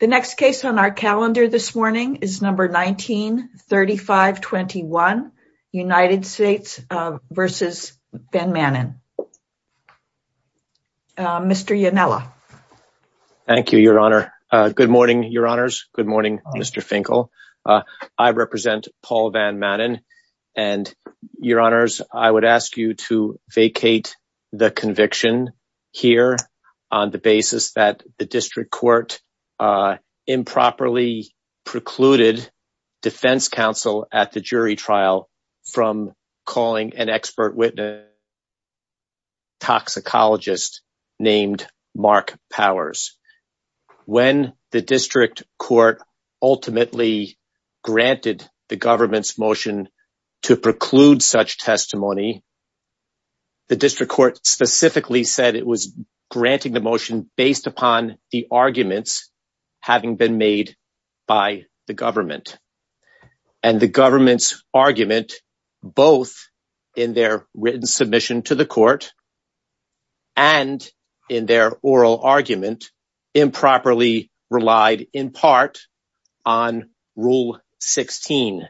The next case on our calendar this morning is number 19-3521 United States v. Van Manen. Mr. Ionella. Thank you, Your Honor. Good morning, Your Honors. Good morning, Mr. Finkel. I represent Paul Van Manen and, Your Honors, I would ask you to vacate the conviction here on the basis that the district court improperly precluded defense counsel at the jury trial from calling an expert witness, a toxicologist named Mark Powers. When the district court ultimately granted the government's motion to preclude such testimony, the district court specifically said it was granting the motion based upon the arguments having been made by the government. And the government's argument, both in their written submission to the court and in their oral argument, improperly relied in part on Rule 16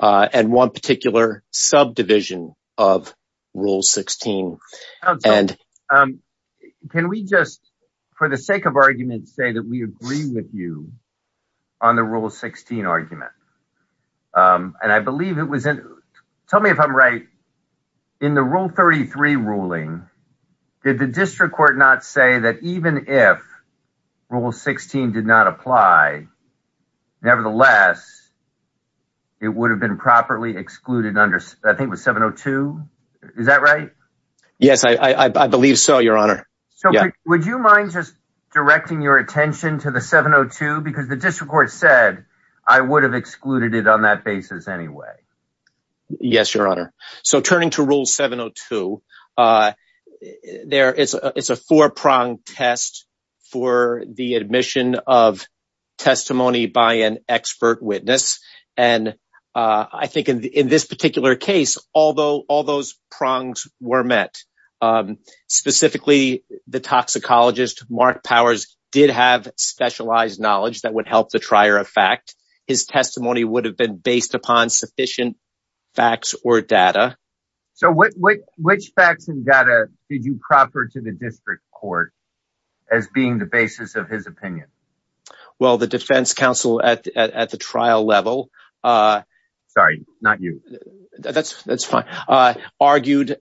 and one particular subdivision of Rule 16. Can we just, for the sake of argument, say that we agree with you on the Rule 16 argument? Tell me if I'm right. In the Rule 33 ruling, did the district court not say that even if Rule 16 did not apply, nevertheless, it would have been properly excluded under, I think it was 702? Is that right? Yes, I believe so, Your Honor. So would you mind just directing your attention to the 702? Because the district court said I would have excluded it on that basis anyway. Yes, Your Honor. So turning to Rule 702, it's a four-pronged test for the admission of testimony by an expert witness. And I think in this particular case, all those prongs were met. Specifically, the toxicologist, Mark Powers, did have specialized knowledge that would help the trier of fact. His testimony would have been did you proper to the district court as being the basis of his opinion? Well, the defense counsel at the trial level... Sorry, not you. That's fine. Argued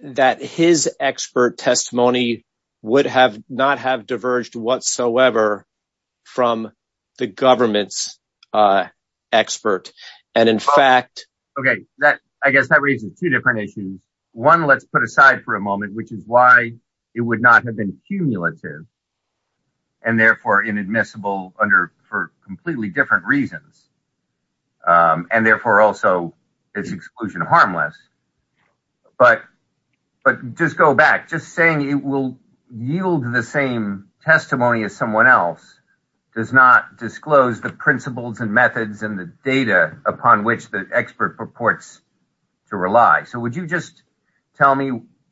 that his expert testimony would not have diverged whatsoever from the government's expert. And in fact... Okay, I guess that raises two different issues. One, let's put aside for a moment, which is why it would not have been cumulative and therefore inadmissible for completely different reasons. And therefore, also, it's exclusion harmless. But just go back. Just saying it will yield the same testimony as someone else does not disclose the principles and methods and the data upon which the expert purports to rely. So would you just tell me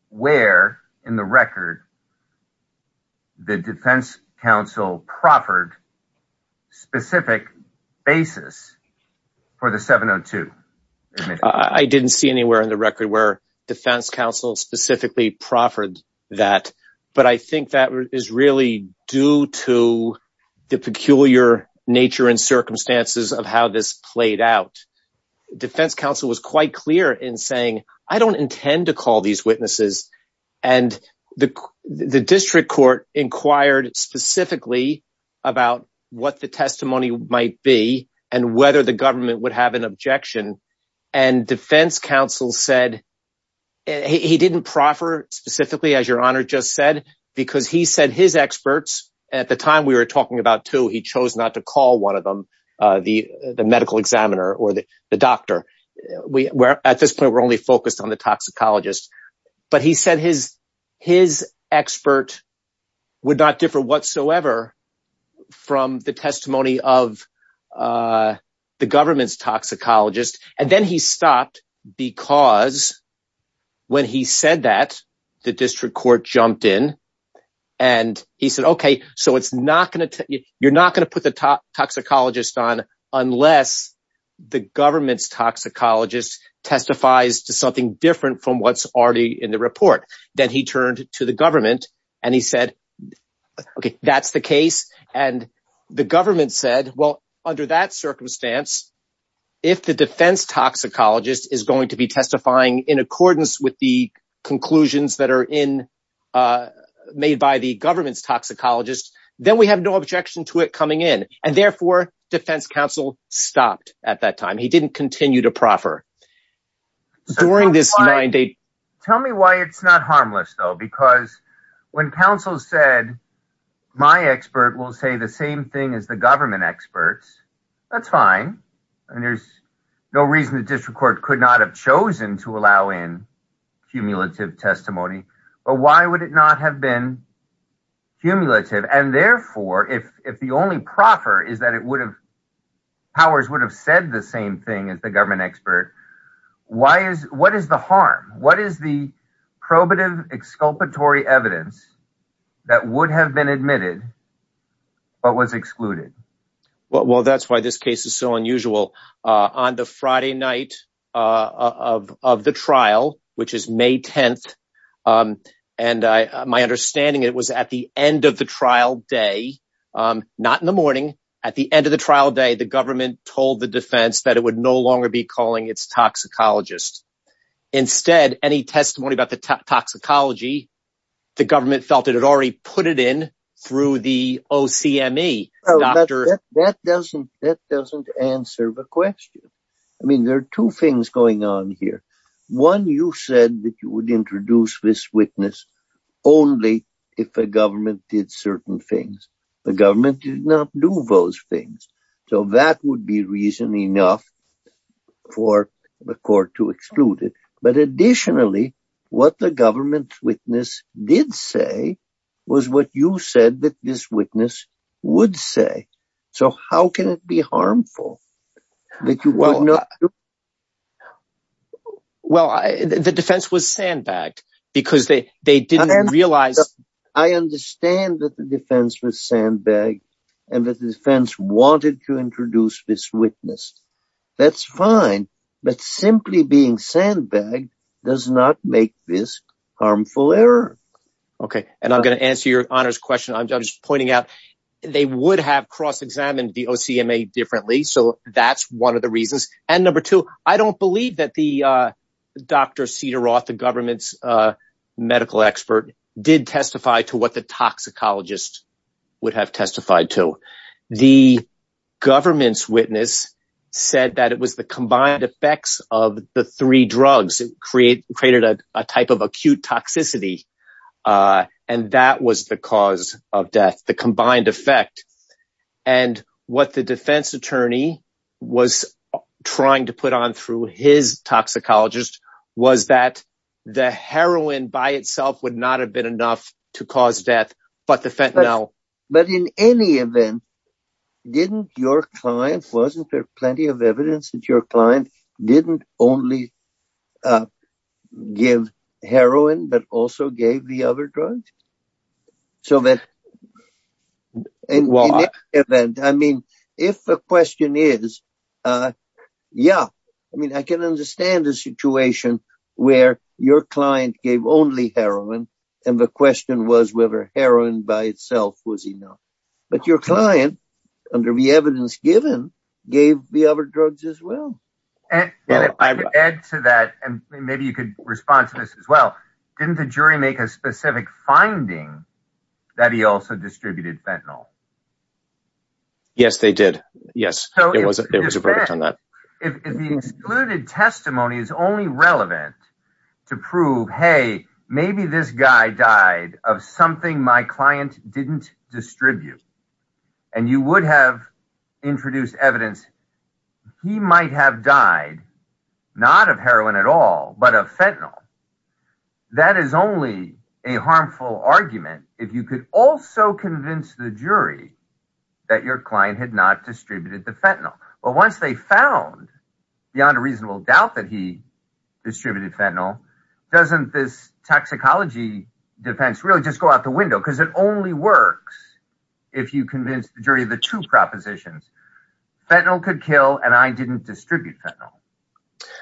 where in the record the defense counsel proffered specific basis for the 702? I didn't see anywhere in the record where defense counsel specifically proffered that. But I think that is really due to the peculiar nature and circumstances of how this in saying, I don't intend to call these witnesses. And the district court inquired specifically about what the testimony might be and whether the government would have an objection. And defense counsel said, he didn't proffer specifically as your honor just said, because he said his experts at the time we were talking about two, he chose not to call one of the medical examiner or the doctor. At this point, we're only focused on the toxicologist. But he said his expert would not differ whatsoever from the testimony of the government's toxicologist. And then he stopped because when he said that, the district court jumped in and he said, okay, so you're not going to put the toxicologist on unless the government's toxicologist testifies to something different from what's already in the report. Then he turned to the government and he said, okay, that's the case. And the government said, well, under that circumstance, if the defense toxicologist is going to be testifying in accordance with the conclusions that are made by the government's toxicologist, then we have no objection to it coming in. And therefore defense counsel stopped at that time. He didn't continue to proffer. During this mandate. Tell me why it's not harmless though, because when counsel said, my expert will say the same thing as the government experts, that's fine. And there's no reason the district court could have chosen to allow in cumulative testimony, but why would it not have been cumulative? And therefore, if the only proffer is that it would have powers would have said the same thing as the government expert. Why is, what is the harm? What is the probative exculpatory evidence that would have been admitted, but was excluded? Well, that's why this case is so unusual. On the Friday night of the trial, which is May 10th. And my understanding, it was at the end of the trial day, not in the morning, at the end of the trial day, the government told the defense that it would no longer be calling its toxicologists. Instead, any testimony about the toxicology, the government felt it had already put it in through the OCME. Oh, that doesn't, that doesn't answer the question. I mean, there are two things going on here. One, you said that you would introduce this witness only if the government did certain things. The government did not do those things. So that would be reason enough for the court to exclude it. But additionally, what the government witness did say was what you said that this witness would say. So how can it be harmful? Well, the defense was sandbagged because they, they didn't realize. I understand that the defense was sandbagged and that the defense wanted to introduce this witness. That's fine. But simply being sandbagged does not make this they would have cross-examined the OCME differently. So that's one of the reasons. And number two, I don't believe that the Dr. Cedar Roth, the government's medical expert, did testify to what the toxicologist would have testified to. The government's witness said that it was the combined effects of the three drugs created a type of acute toxicity. Uh, and that was the cause of death, the combined effect. And what the defense attorney was trying to put on through his toxicologist was that the heroin by itself would not have been enough to cause death, but the fentanyl. But in any event, didn't your client wasn't there evidence that your client didn't only, uh, give heroin, but also gave the other drugs. So that event, I mean, if the question is, uh, yeah, I mean, I can understand the situation where your client gave only heroin. And the question was whether heroin by itself was enough, but your client under the evidence given gave the other drugs as well. And to add to that, and maybe you could respond to this as well. Didn't the jury make a specific finding that he also distributed fentanyl? Yes, they did. Yes. It was a verdict on that. If the excluded testimony is only relevant to prove, hey, maybe this guy died of something my client didn't distribute. And you would have introduced evidence. He might have died not of heroin at all, but of fentanyl. That is only a harmful argument. If you could also convince the jury that your client had not distributed the fentanyl, but once they found beyond a reasonable doubt that he distributed fentanyl doesn't this toxicology defense really go out the window? Because it only works if you convince the jury of the two propositions. Fentanyl could kill and I didn't distribute fentanyl.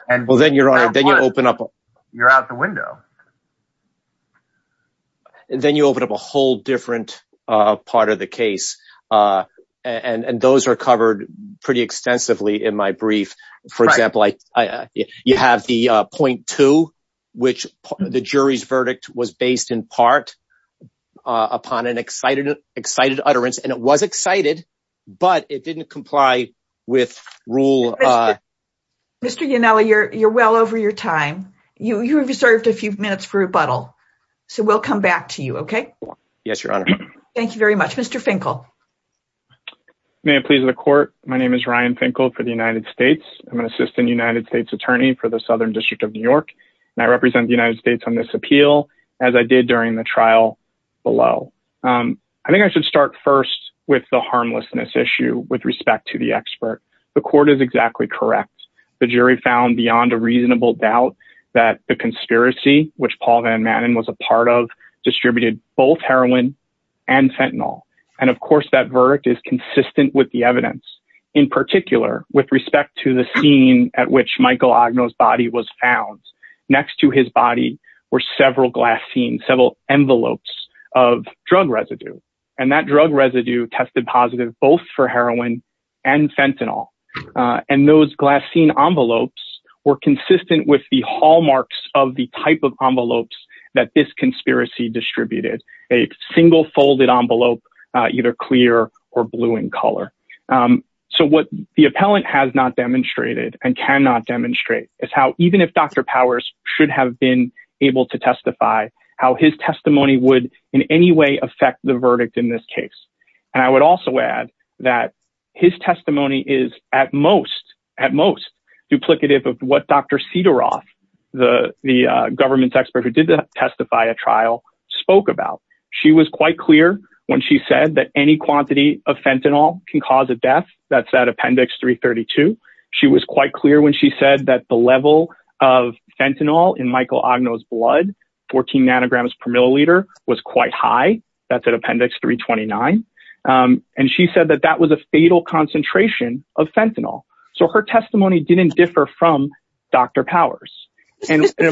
And well, then you're on it. Then you open up, you're out the window. And then you open up a whole different, uh, part of the case. Uh, and, and those are covered pretty extensively in my brief. For example, I, I, you have the 0.2, which the jury's verdict was based in part, uh, upon an excited, excited utterance. And it was excited, but it didn't comply with rule. Uh, Mr. You know, you're, you're well over your time. You, you have reserved a few minutes for rebuttal. So we'll come back to you. Okay. Yes, Your Honor. Thank you very much, Mr. Finkel. May it please the court. My name is Ryan Finkel for the United States. I'm an assistant United States attorney for the Southern district of New York. And I represent the United States on this appeal as I did during the trial below. Um, I think I should start first with the harmlessness issue with respect to the expert. The court is exactly correct. The jury found beyond a reasonable doubt that the conspiracy, which Paul Van Manen was a part of distributed both heroin and fentanyl. And of course that verdict is consistent with the evidence in particular with respect to the scene at which Michael Agno's body was found next to his body were several glass scenes, several envelopes of drug residue. And that drug residue tested positive both for heroin and fentanyl. Uh, and those glass scene envelopes were consistent with the hallmarks of the type of envelopes that this conspiracy distributed a single folded envelope, either clear or blue in color. Um, so what the appellant has not demonstrated and cannot demonstrate is how, even if Dr. Powers should have been able to testify, how his testimony would in any way affect the verdict in this case. And I would also add that his testimony is at most, at most duplicative of what Dr. Cedar Roth, the, the, uh, government's expert who did testify a spoke about. She was quite clear when she said that any quantity of fentanyl can cause a death that's at appendix three 32. She was quite clear when she said that the level of fentanyl in Michael Agno's blood, 14 nanograms per milliliter was quite high. That's at appendix three 29. Um, and she said that that was a fatal concentration of fentanyl. So her testimony didn't differ from Dr. Powers. I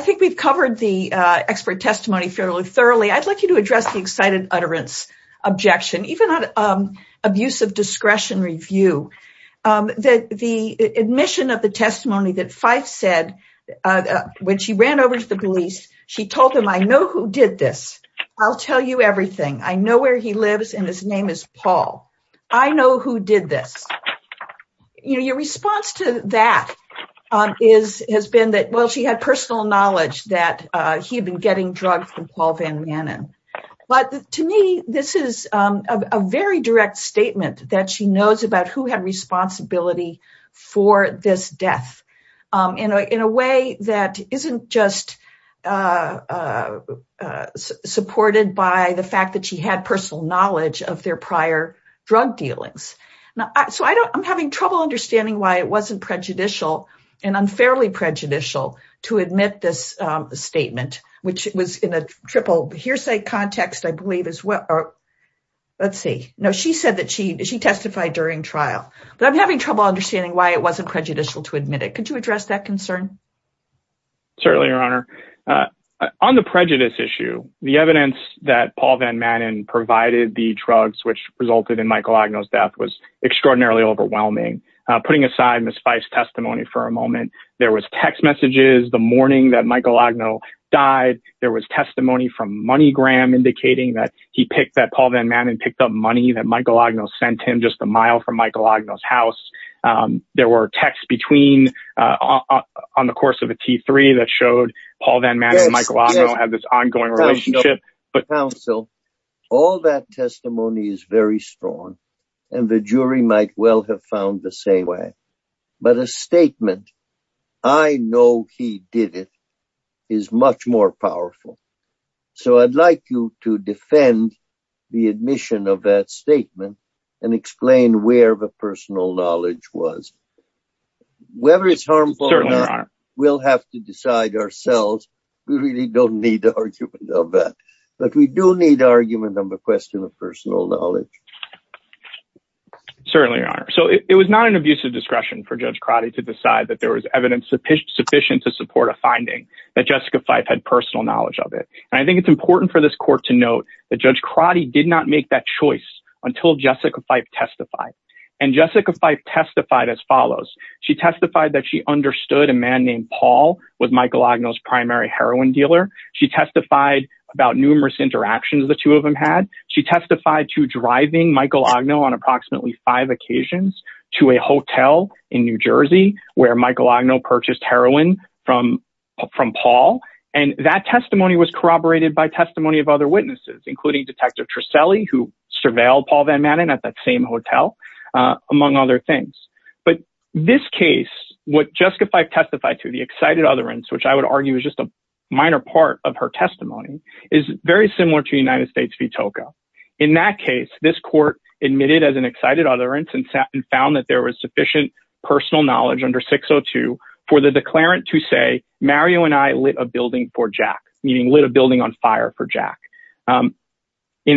think we've covered the, uh, expert testimony fairly thoroughly. I'd like you to address the excited utterance objection, even on, um, abuse of discretion review, um, that the admission of the testimony that Fife said, uh, when she ran over to the police, she told him, I know who did this. I'll tell you everything. I know where he lives and his name is Paul. I know who did this. You know, your response to that, um, is, has been that, well, she had personal knowledge that, uh, he had been getting drugs from Paul van Manen. But to me, this is, um, a very direct statement that she knows about who had responsibility for this death, um, in a, in a way that isn't just, uh, uh, uh, supported by the fact that had personal knowledge of their prior drug dealings. So I don't, I'm having trouble understanding why it wasn't prejudicial and unfairly prejudicial to admit this, um, statement, which was in a triple hearsay context, I believe as well. Let's see. No, she said that she, she testified during trial, but I'm having trouble understanding why it wasn't prejudicial to admit it. Could you address that concern? Certainly your honor, uh, on the prejudice issue, the evidence that Paul van Manen provided the drugs, which resulted in Michael Agno's death was extraordinarily overwhelming. Uh, putting aside Ms. Fife's testimony for a moment, there was text messages the morning that Michael Agno died. There was testimony from MoneyGram indicating that he picked that Paul van Manen picked up money that Michael Agno sent him just a mile from Michael Agno's house. Um, there were texts between, uh, on the course of a T3 that Paul van Manen and Michael Agno had this ongoing relationship. All that testimony is very strong and the jury might well have found the same way, but a statement, I know he did it, is much more powerful. So I'd like you to defend the admission of that statement and explain where the personal knowledge was. Whether it's harmful or not, we'll have to decide ourselves. We really don't need the argument of that, but we do need argument on the question of personal knowledge. Certainly your honor. So it was not an abusive discretion for Judge Crotty to decide that there was evidence sufficient to support a finding that Jessica Fife had personal knowledge of it. And I think it's important for this court to note that Judge Crotty did not make that choice until Jessica Fife testified. And Jessica Fife testified as follows. She testified that she understood a man named Paul was Michael Agno's primary heroin dealer. She testified about numerous interactions the two of them had. She testified to driving Michael Agno on approximately five occasions to a hotel in New Jersey where Michael Agno purchased heroin from Paul. And that testimony was corroborated by testimony of other witnesses, including Detective Tricelli, who surveilled Paul at that same hotel, among other things. But this case, what Jessica Fife testified to, the excited utterance, which I would argue is just a minor part of her testimony, is very similar to United States v. Tocco. In that case, this court admitted as an excited utterance and found that there was sufficient personal knowledge under 602 for the declarant to say, Mario and I lit a building for Jack. In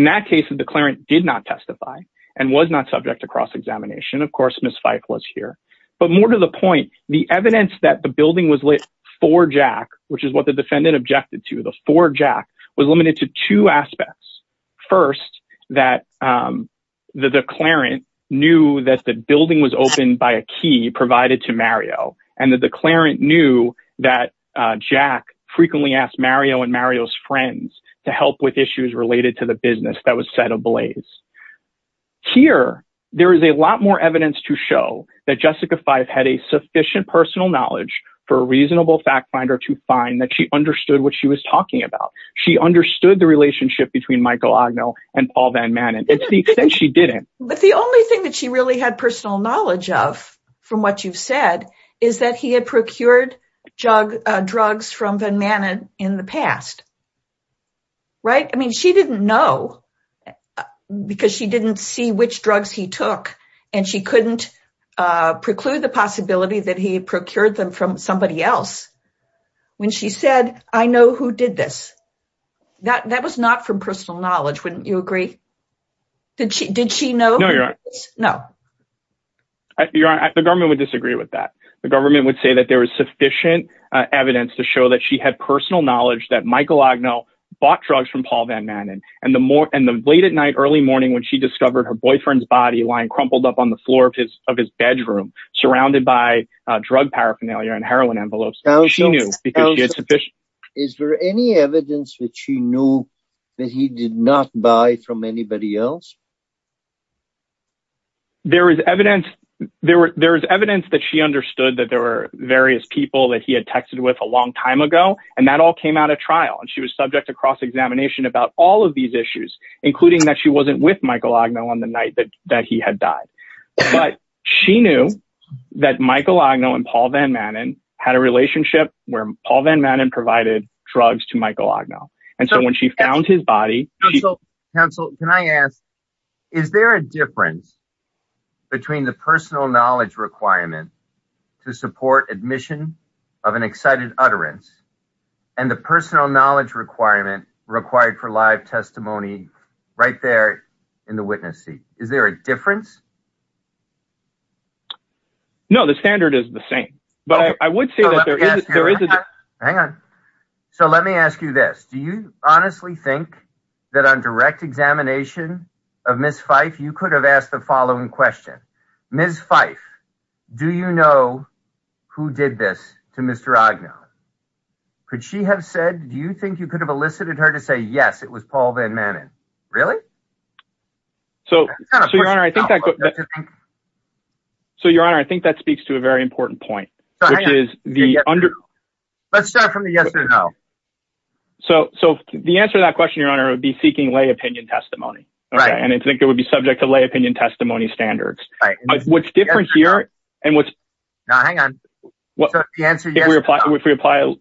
that case, the declarant did not testify and was not subject to cross-examination. Of course, Ms. Fife was here. But more to the point, the evidence that the building was lit for Jack, which is what the defendant objected to, the for Jack, was limited to two aspects. First, that the declarant knew that the building was opened by a key provided to Mario, and the declarant knew that Jack frequently asked Mario and Mario's friends to help with issues related to the business that was set ablaze. Here, there is a lot more evidence to show that Jessica Fife had a sufficient personal knowledge for a reasonable fact finder to find that she understood what she was talking about. She understood the relationship between Michael Agno and Paul Van Manen. It's the extent she didn't. But the only thing that she really had personal knowledge of from what you've said is that he had procured drugs from Van Manen in the past, right? I mean, she didn't know because she didn't see which drugs he took, and she couldn't preclude the possibility that he had procured them from somebody else. When she said, I know who did this, that was not from personal knowledge, wouldn't you agree? Did she know? No, you're right. The government would disagree with that. The government would say that there was sufficient evidence to show that she had personal knowledge that Michael Agno bought drugs from Paul Van Manen. And the late at night, early morning, when she discovered her boyfriend's body lying crumpled up on the floor of his bedroom, surrounded by drug paraphernalia and heroin envelopes. Is there any evidence that she knew that he did not buy from anybody else? There is evidence that she understood that there were various people that he had texted with a long time ago. And that all came out of trial. And she was subject to cross-examination about all of these issues, including that she wasn't with Michael Agno on the night that he had died. But she knew that Michael Agno and Paul Van Manen had a relationship where Paul Van Manen provided drugs to Michael Agno. And so when she found his body... Counsel, can I ask, is there a difference between the personal knowledge requirement to support admission of an excited utterance and the personal knowledge requirement required for live testimony right there in the witness seat? Is there a difference? No, the standard is the same, but I would say that there is a difference. Hang on. So let me ask you this. Do you honestly think that on direct examination of Ms. Fife, you could have asked the following question? Ms. Fife, do you know who did this to Mr. Agno? Could she have said, do you think you could have elicited her to say, yes, it was Paul Van Manen? Really? So, Your Honor, I think that speaks to a very important point, which is the... Let's start from the yes or no. So the answer to that question, Your Honor, would be seeking lay opinion testimony. And I think it would be subject to lay opinion testimony standards. But what's different here and what's... No, hang on. If we apply... Yeah.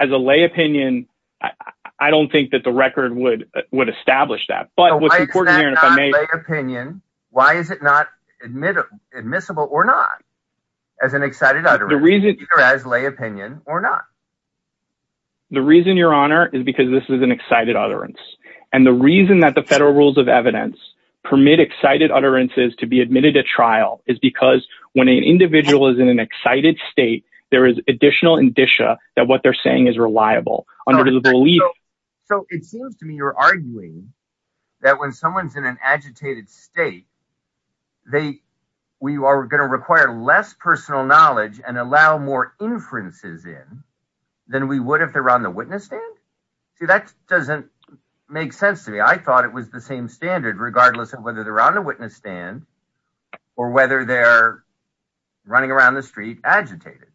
As a lay opinion, I don't think that the record would establish that. But what's important here... So why is that not lay opinion? Why is it not admissible or not as an excited utterance? The reason... Either as lay opinion or not. The reason, Your Honor, is because this is an excited utterance. And the reason that the federal rules of evidence permit excited utterances to be that what they're saying is reliable under the belief... So it seems to me you're arguing that when someone's in an agitated state, we are going to require less personal knowledge and allow more inferences in than we would if they're on the witness stand? See, that doesn't make sense to me. I thought it was the same standard regardless of whether they're on the witness stand or whether they're running around the street agitated.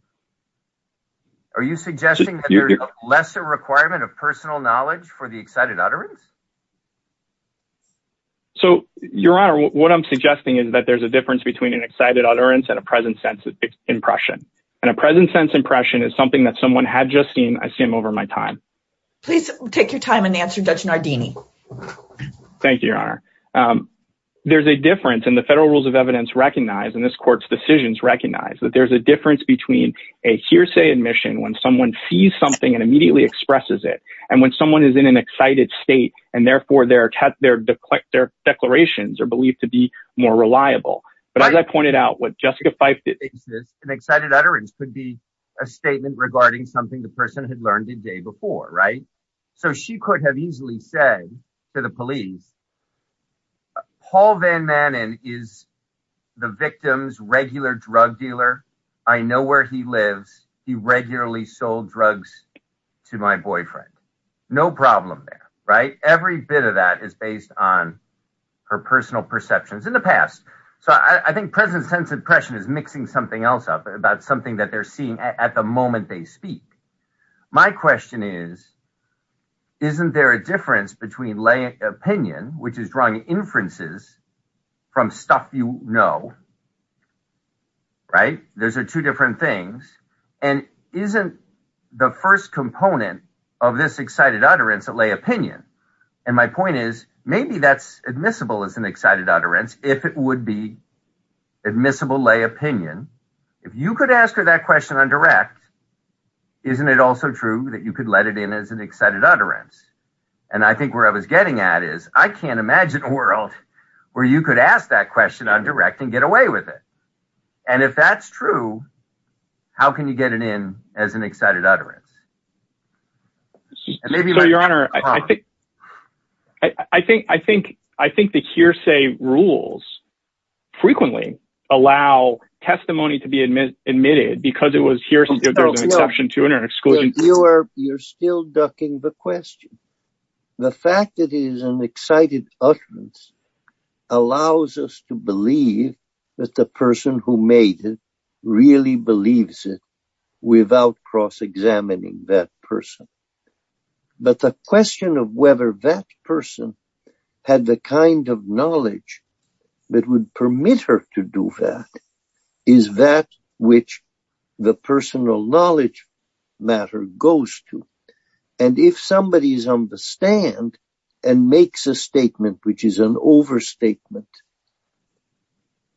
Are you suggesting that there's a lesser requirement of personal knowledge for the excited utterance? So, Your Honor, what I'm suggesting is that there's a difference between an excited utterance and a present sense impression. And a present sense impression is something that someone had just seen. I see him over my time. Please take your time and answer, Judge Nardini. Thank you, Your Honor. There's a difference in the federal rules of evidence recognize, and this court's decisions recognize, that there's a difference between a hearsay admission when someone sees something and immediately expresses it, and when someone is in an excited state and therefore their declarations are believed to be more reliable. But as I pointed out, what Jessica Fyfe did... An excited utterance could be a statement regarding something the person had learned the day before, right? So she could have said to the police, Paul Van Manen is the victim's regular drug dealer. I know where he lives. He regularly sold drugs to my boyfriend. No problem there, right? Every bit of that is based on her personal perceptions in the past. So I think present sense impression is mixing something else up about something that they're seeing at the moment they speak. My question is, isn't there a difference between lay opinion, which is drawing inferences from stuff you know, right? Those are two different things. And isn't the first component of this excited utterance a lay opinion? And my point is, maybe that's admissible as an excited utterance if it would be admissible lay opinion. If you could ask her that question on direct, isn't it also true that you could let it in as an excited utterance? And I think where I was getting at is I can't imagine a world where you could ask that question on direct and get away with it. And if that's true, how can you get it in as an excited utterance? And maybe- So your honor, I think the hearsay rules frequently allow testimony to be admitted because it was hearsay, there's an exception to it or an exclusion. You are, you're still ducking the question. The fact that it is an excited utterance allows us to believe that the person who made it really believes it without cross-examining that person. But the question of whether that person had the kind of knowledge that would the personal knowledge matter goes to. And if somebody is on the stand and makes a statement, which is an overstatement,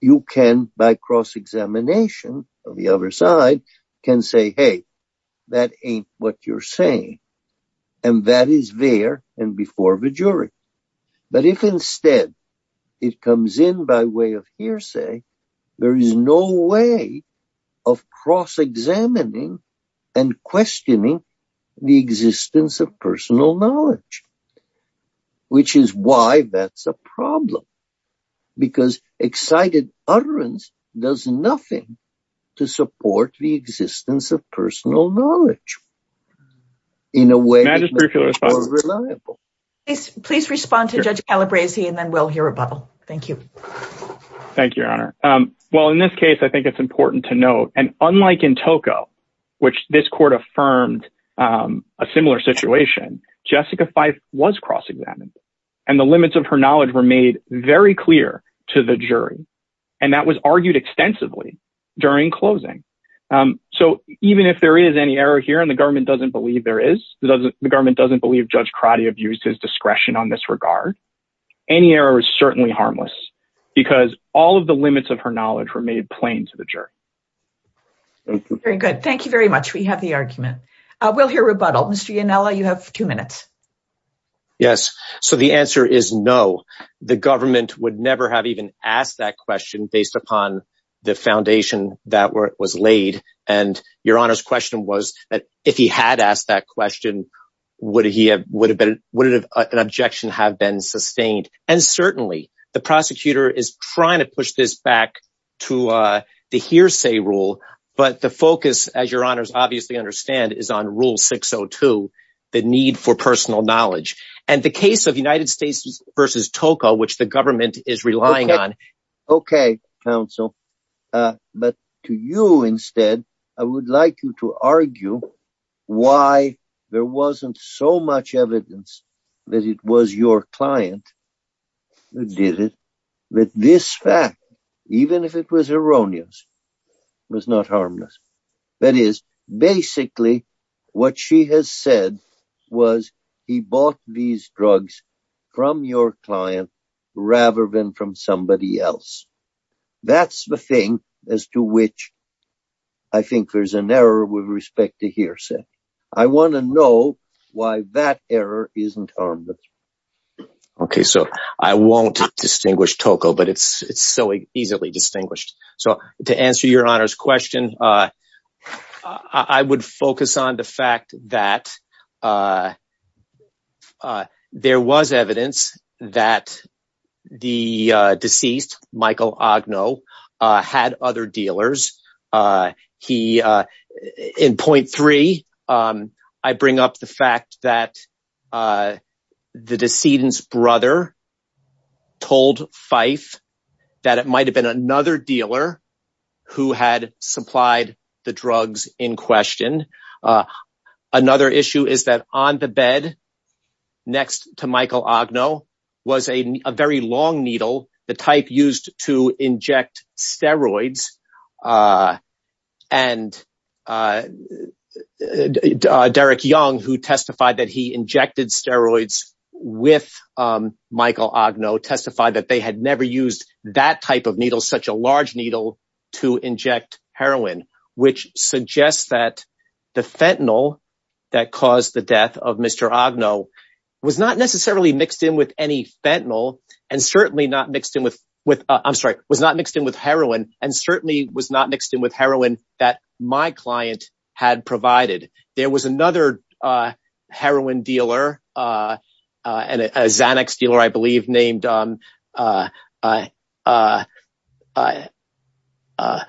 you can by cross-examination of the other side can say, hey, that ain't what you're saying. And that is there and before the jury. But if instead it comes in by way of hearsay, there is no way of cross-examining and questioning the existence of personal knowledge, which is why that's a problem because excited utterance does nothing to support the existence of personal knowledge in a way- Please respond to judge Calabrese and then we'll hear a bubble. Thank you. Thank you, your honor. Well, in this case, I think it's important to note and unlike in Tocco, which this court affirmed a similar situation, Jessica Fife was cross-examined and the limits of her knowledge were made very clear to the jury. And that was argued extensively during closing. So even if there is any error here and the government doesn't believe there is, the government doesn't believe judge Crotty abused his discretion on this regard, any error is certainly harmless because all of the limits of her knowledge were made plain to the jury. Very good. Thank you very much. We have the argument. We'll hear rebuttal. Mr. Yanella, you have two minutes. Yes. So the answer is no. The government would never have even asked that question based upon the foundation that was laid. And your honor's question was that if he had asked that question, would he have, would it have an objection have been sustained? And certainly the prosecutor is trying to push this back to the hearsay rule, but the focus as your honors obviously understand is on rule 602, the need for personal knowledge and the case of United States versus Tocco, which the government is relying on. Okay. Counsel, uh, but to you instead, I would like you to argue why there wasn't so much evidence that it was your client that did it with this fact, even if it was erroneous, was not harmless. That is basically what she has said was he bought these drugs from your client rather than from somebody else. That's the thing as to which I think there's an error with respect to hearsay. I want to know why that error isn't harmless. Okay. So I won't distinguish Tocco, but it's, it's so easily distinguished. So to answer your honor's question, uh, I would focus on the fact that, uh, uh, there was evidence that the, uh, deceased Michael Agno, uh, had other dealers. Uh, he, uh, in 0.3, um, I bring up the fact that, uh, the decedent's brother told Fife that it might've been another dealer who had supplied the drugs in question. Uh, another issue is that on the bed next to Michael Agno was a, a very long needle, the type used to inject steroids. Uh, and, uh, uh, Derek Young, who testified that he injected steroids with, um, Michael Agno testified that they had never used that type of needle, such a large needle to inject heroin, which suggests that the fentanyl that caused the death of Mr. Agno was not necessarily mixed in with any fentanyl and certainly not mixed in with, with, uh, I'm sorry, was not mixed in with heroin and certainly was had provided. There was another, uh, heroin dealer, uh, uh, and a Xanax dealer, I believe named, um, uh, uh, uh, uh, uh,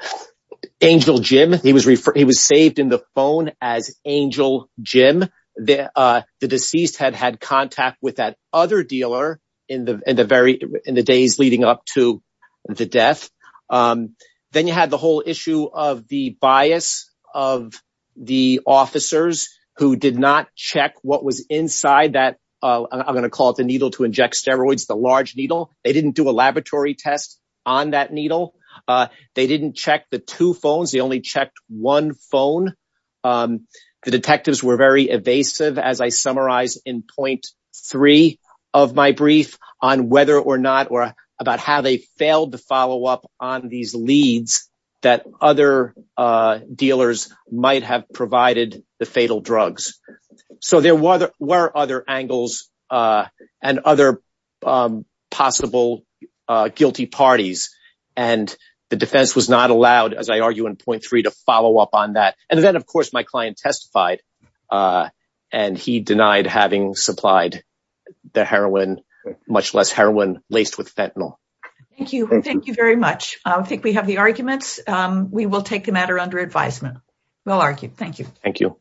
Angel Jim. He was referred, he was saved in the phone as Angel Jim. The, uh, the deceased had had contact with that other dealer in the, in the very, in the days leading up to the death. Um, then you had the whole issue of the bias of the officers who did not check what was inside that, uh, I'm going to call it the needle to inject steroids, the large needle. They didn't do a laboratory test on that needle. Uh, they didn't check the two phones. They only checked one phone. Um, the detectives were very evasive as I summarize in three of my brief on whether or not, or about how they failed to follow up on these leads that other, uh, dealers might have provided the fatal drugs. So there were other, were other angles, uh, and other, um, possible, uh, guilty parties. And the defense was not allowed as I argue in 0.3 to follow up on that. And then of course my client testified, uh, and he denied having supplied the heroin, much less heroin laced with fentanyl. Thank you. Thank you very much. I think we have the arguments. Um, we will take the matter under advisement. Well argued. Thank you. Thank you.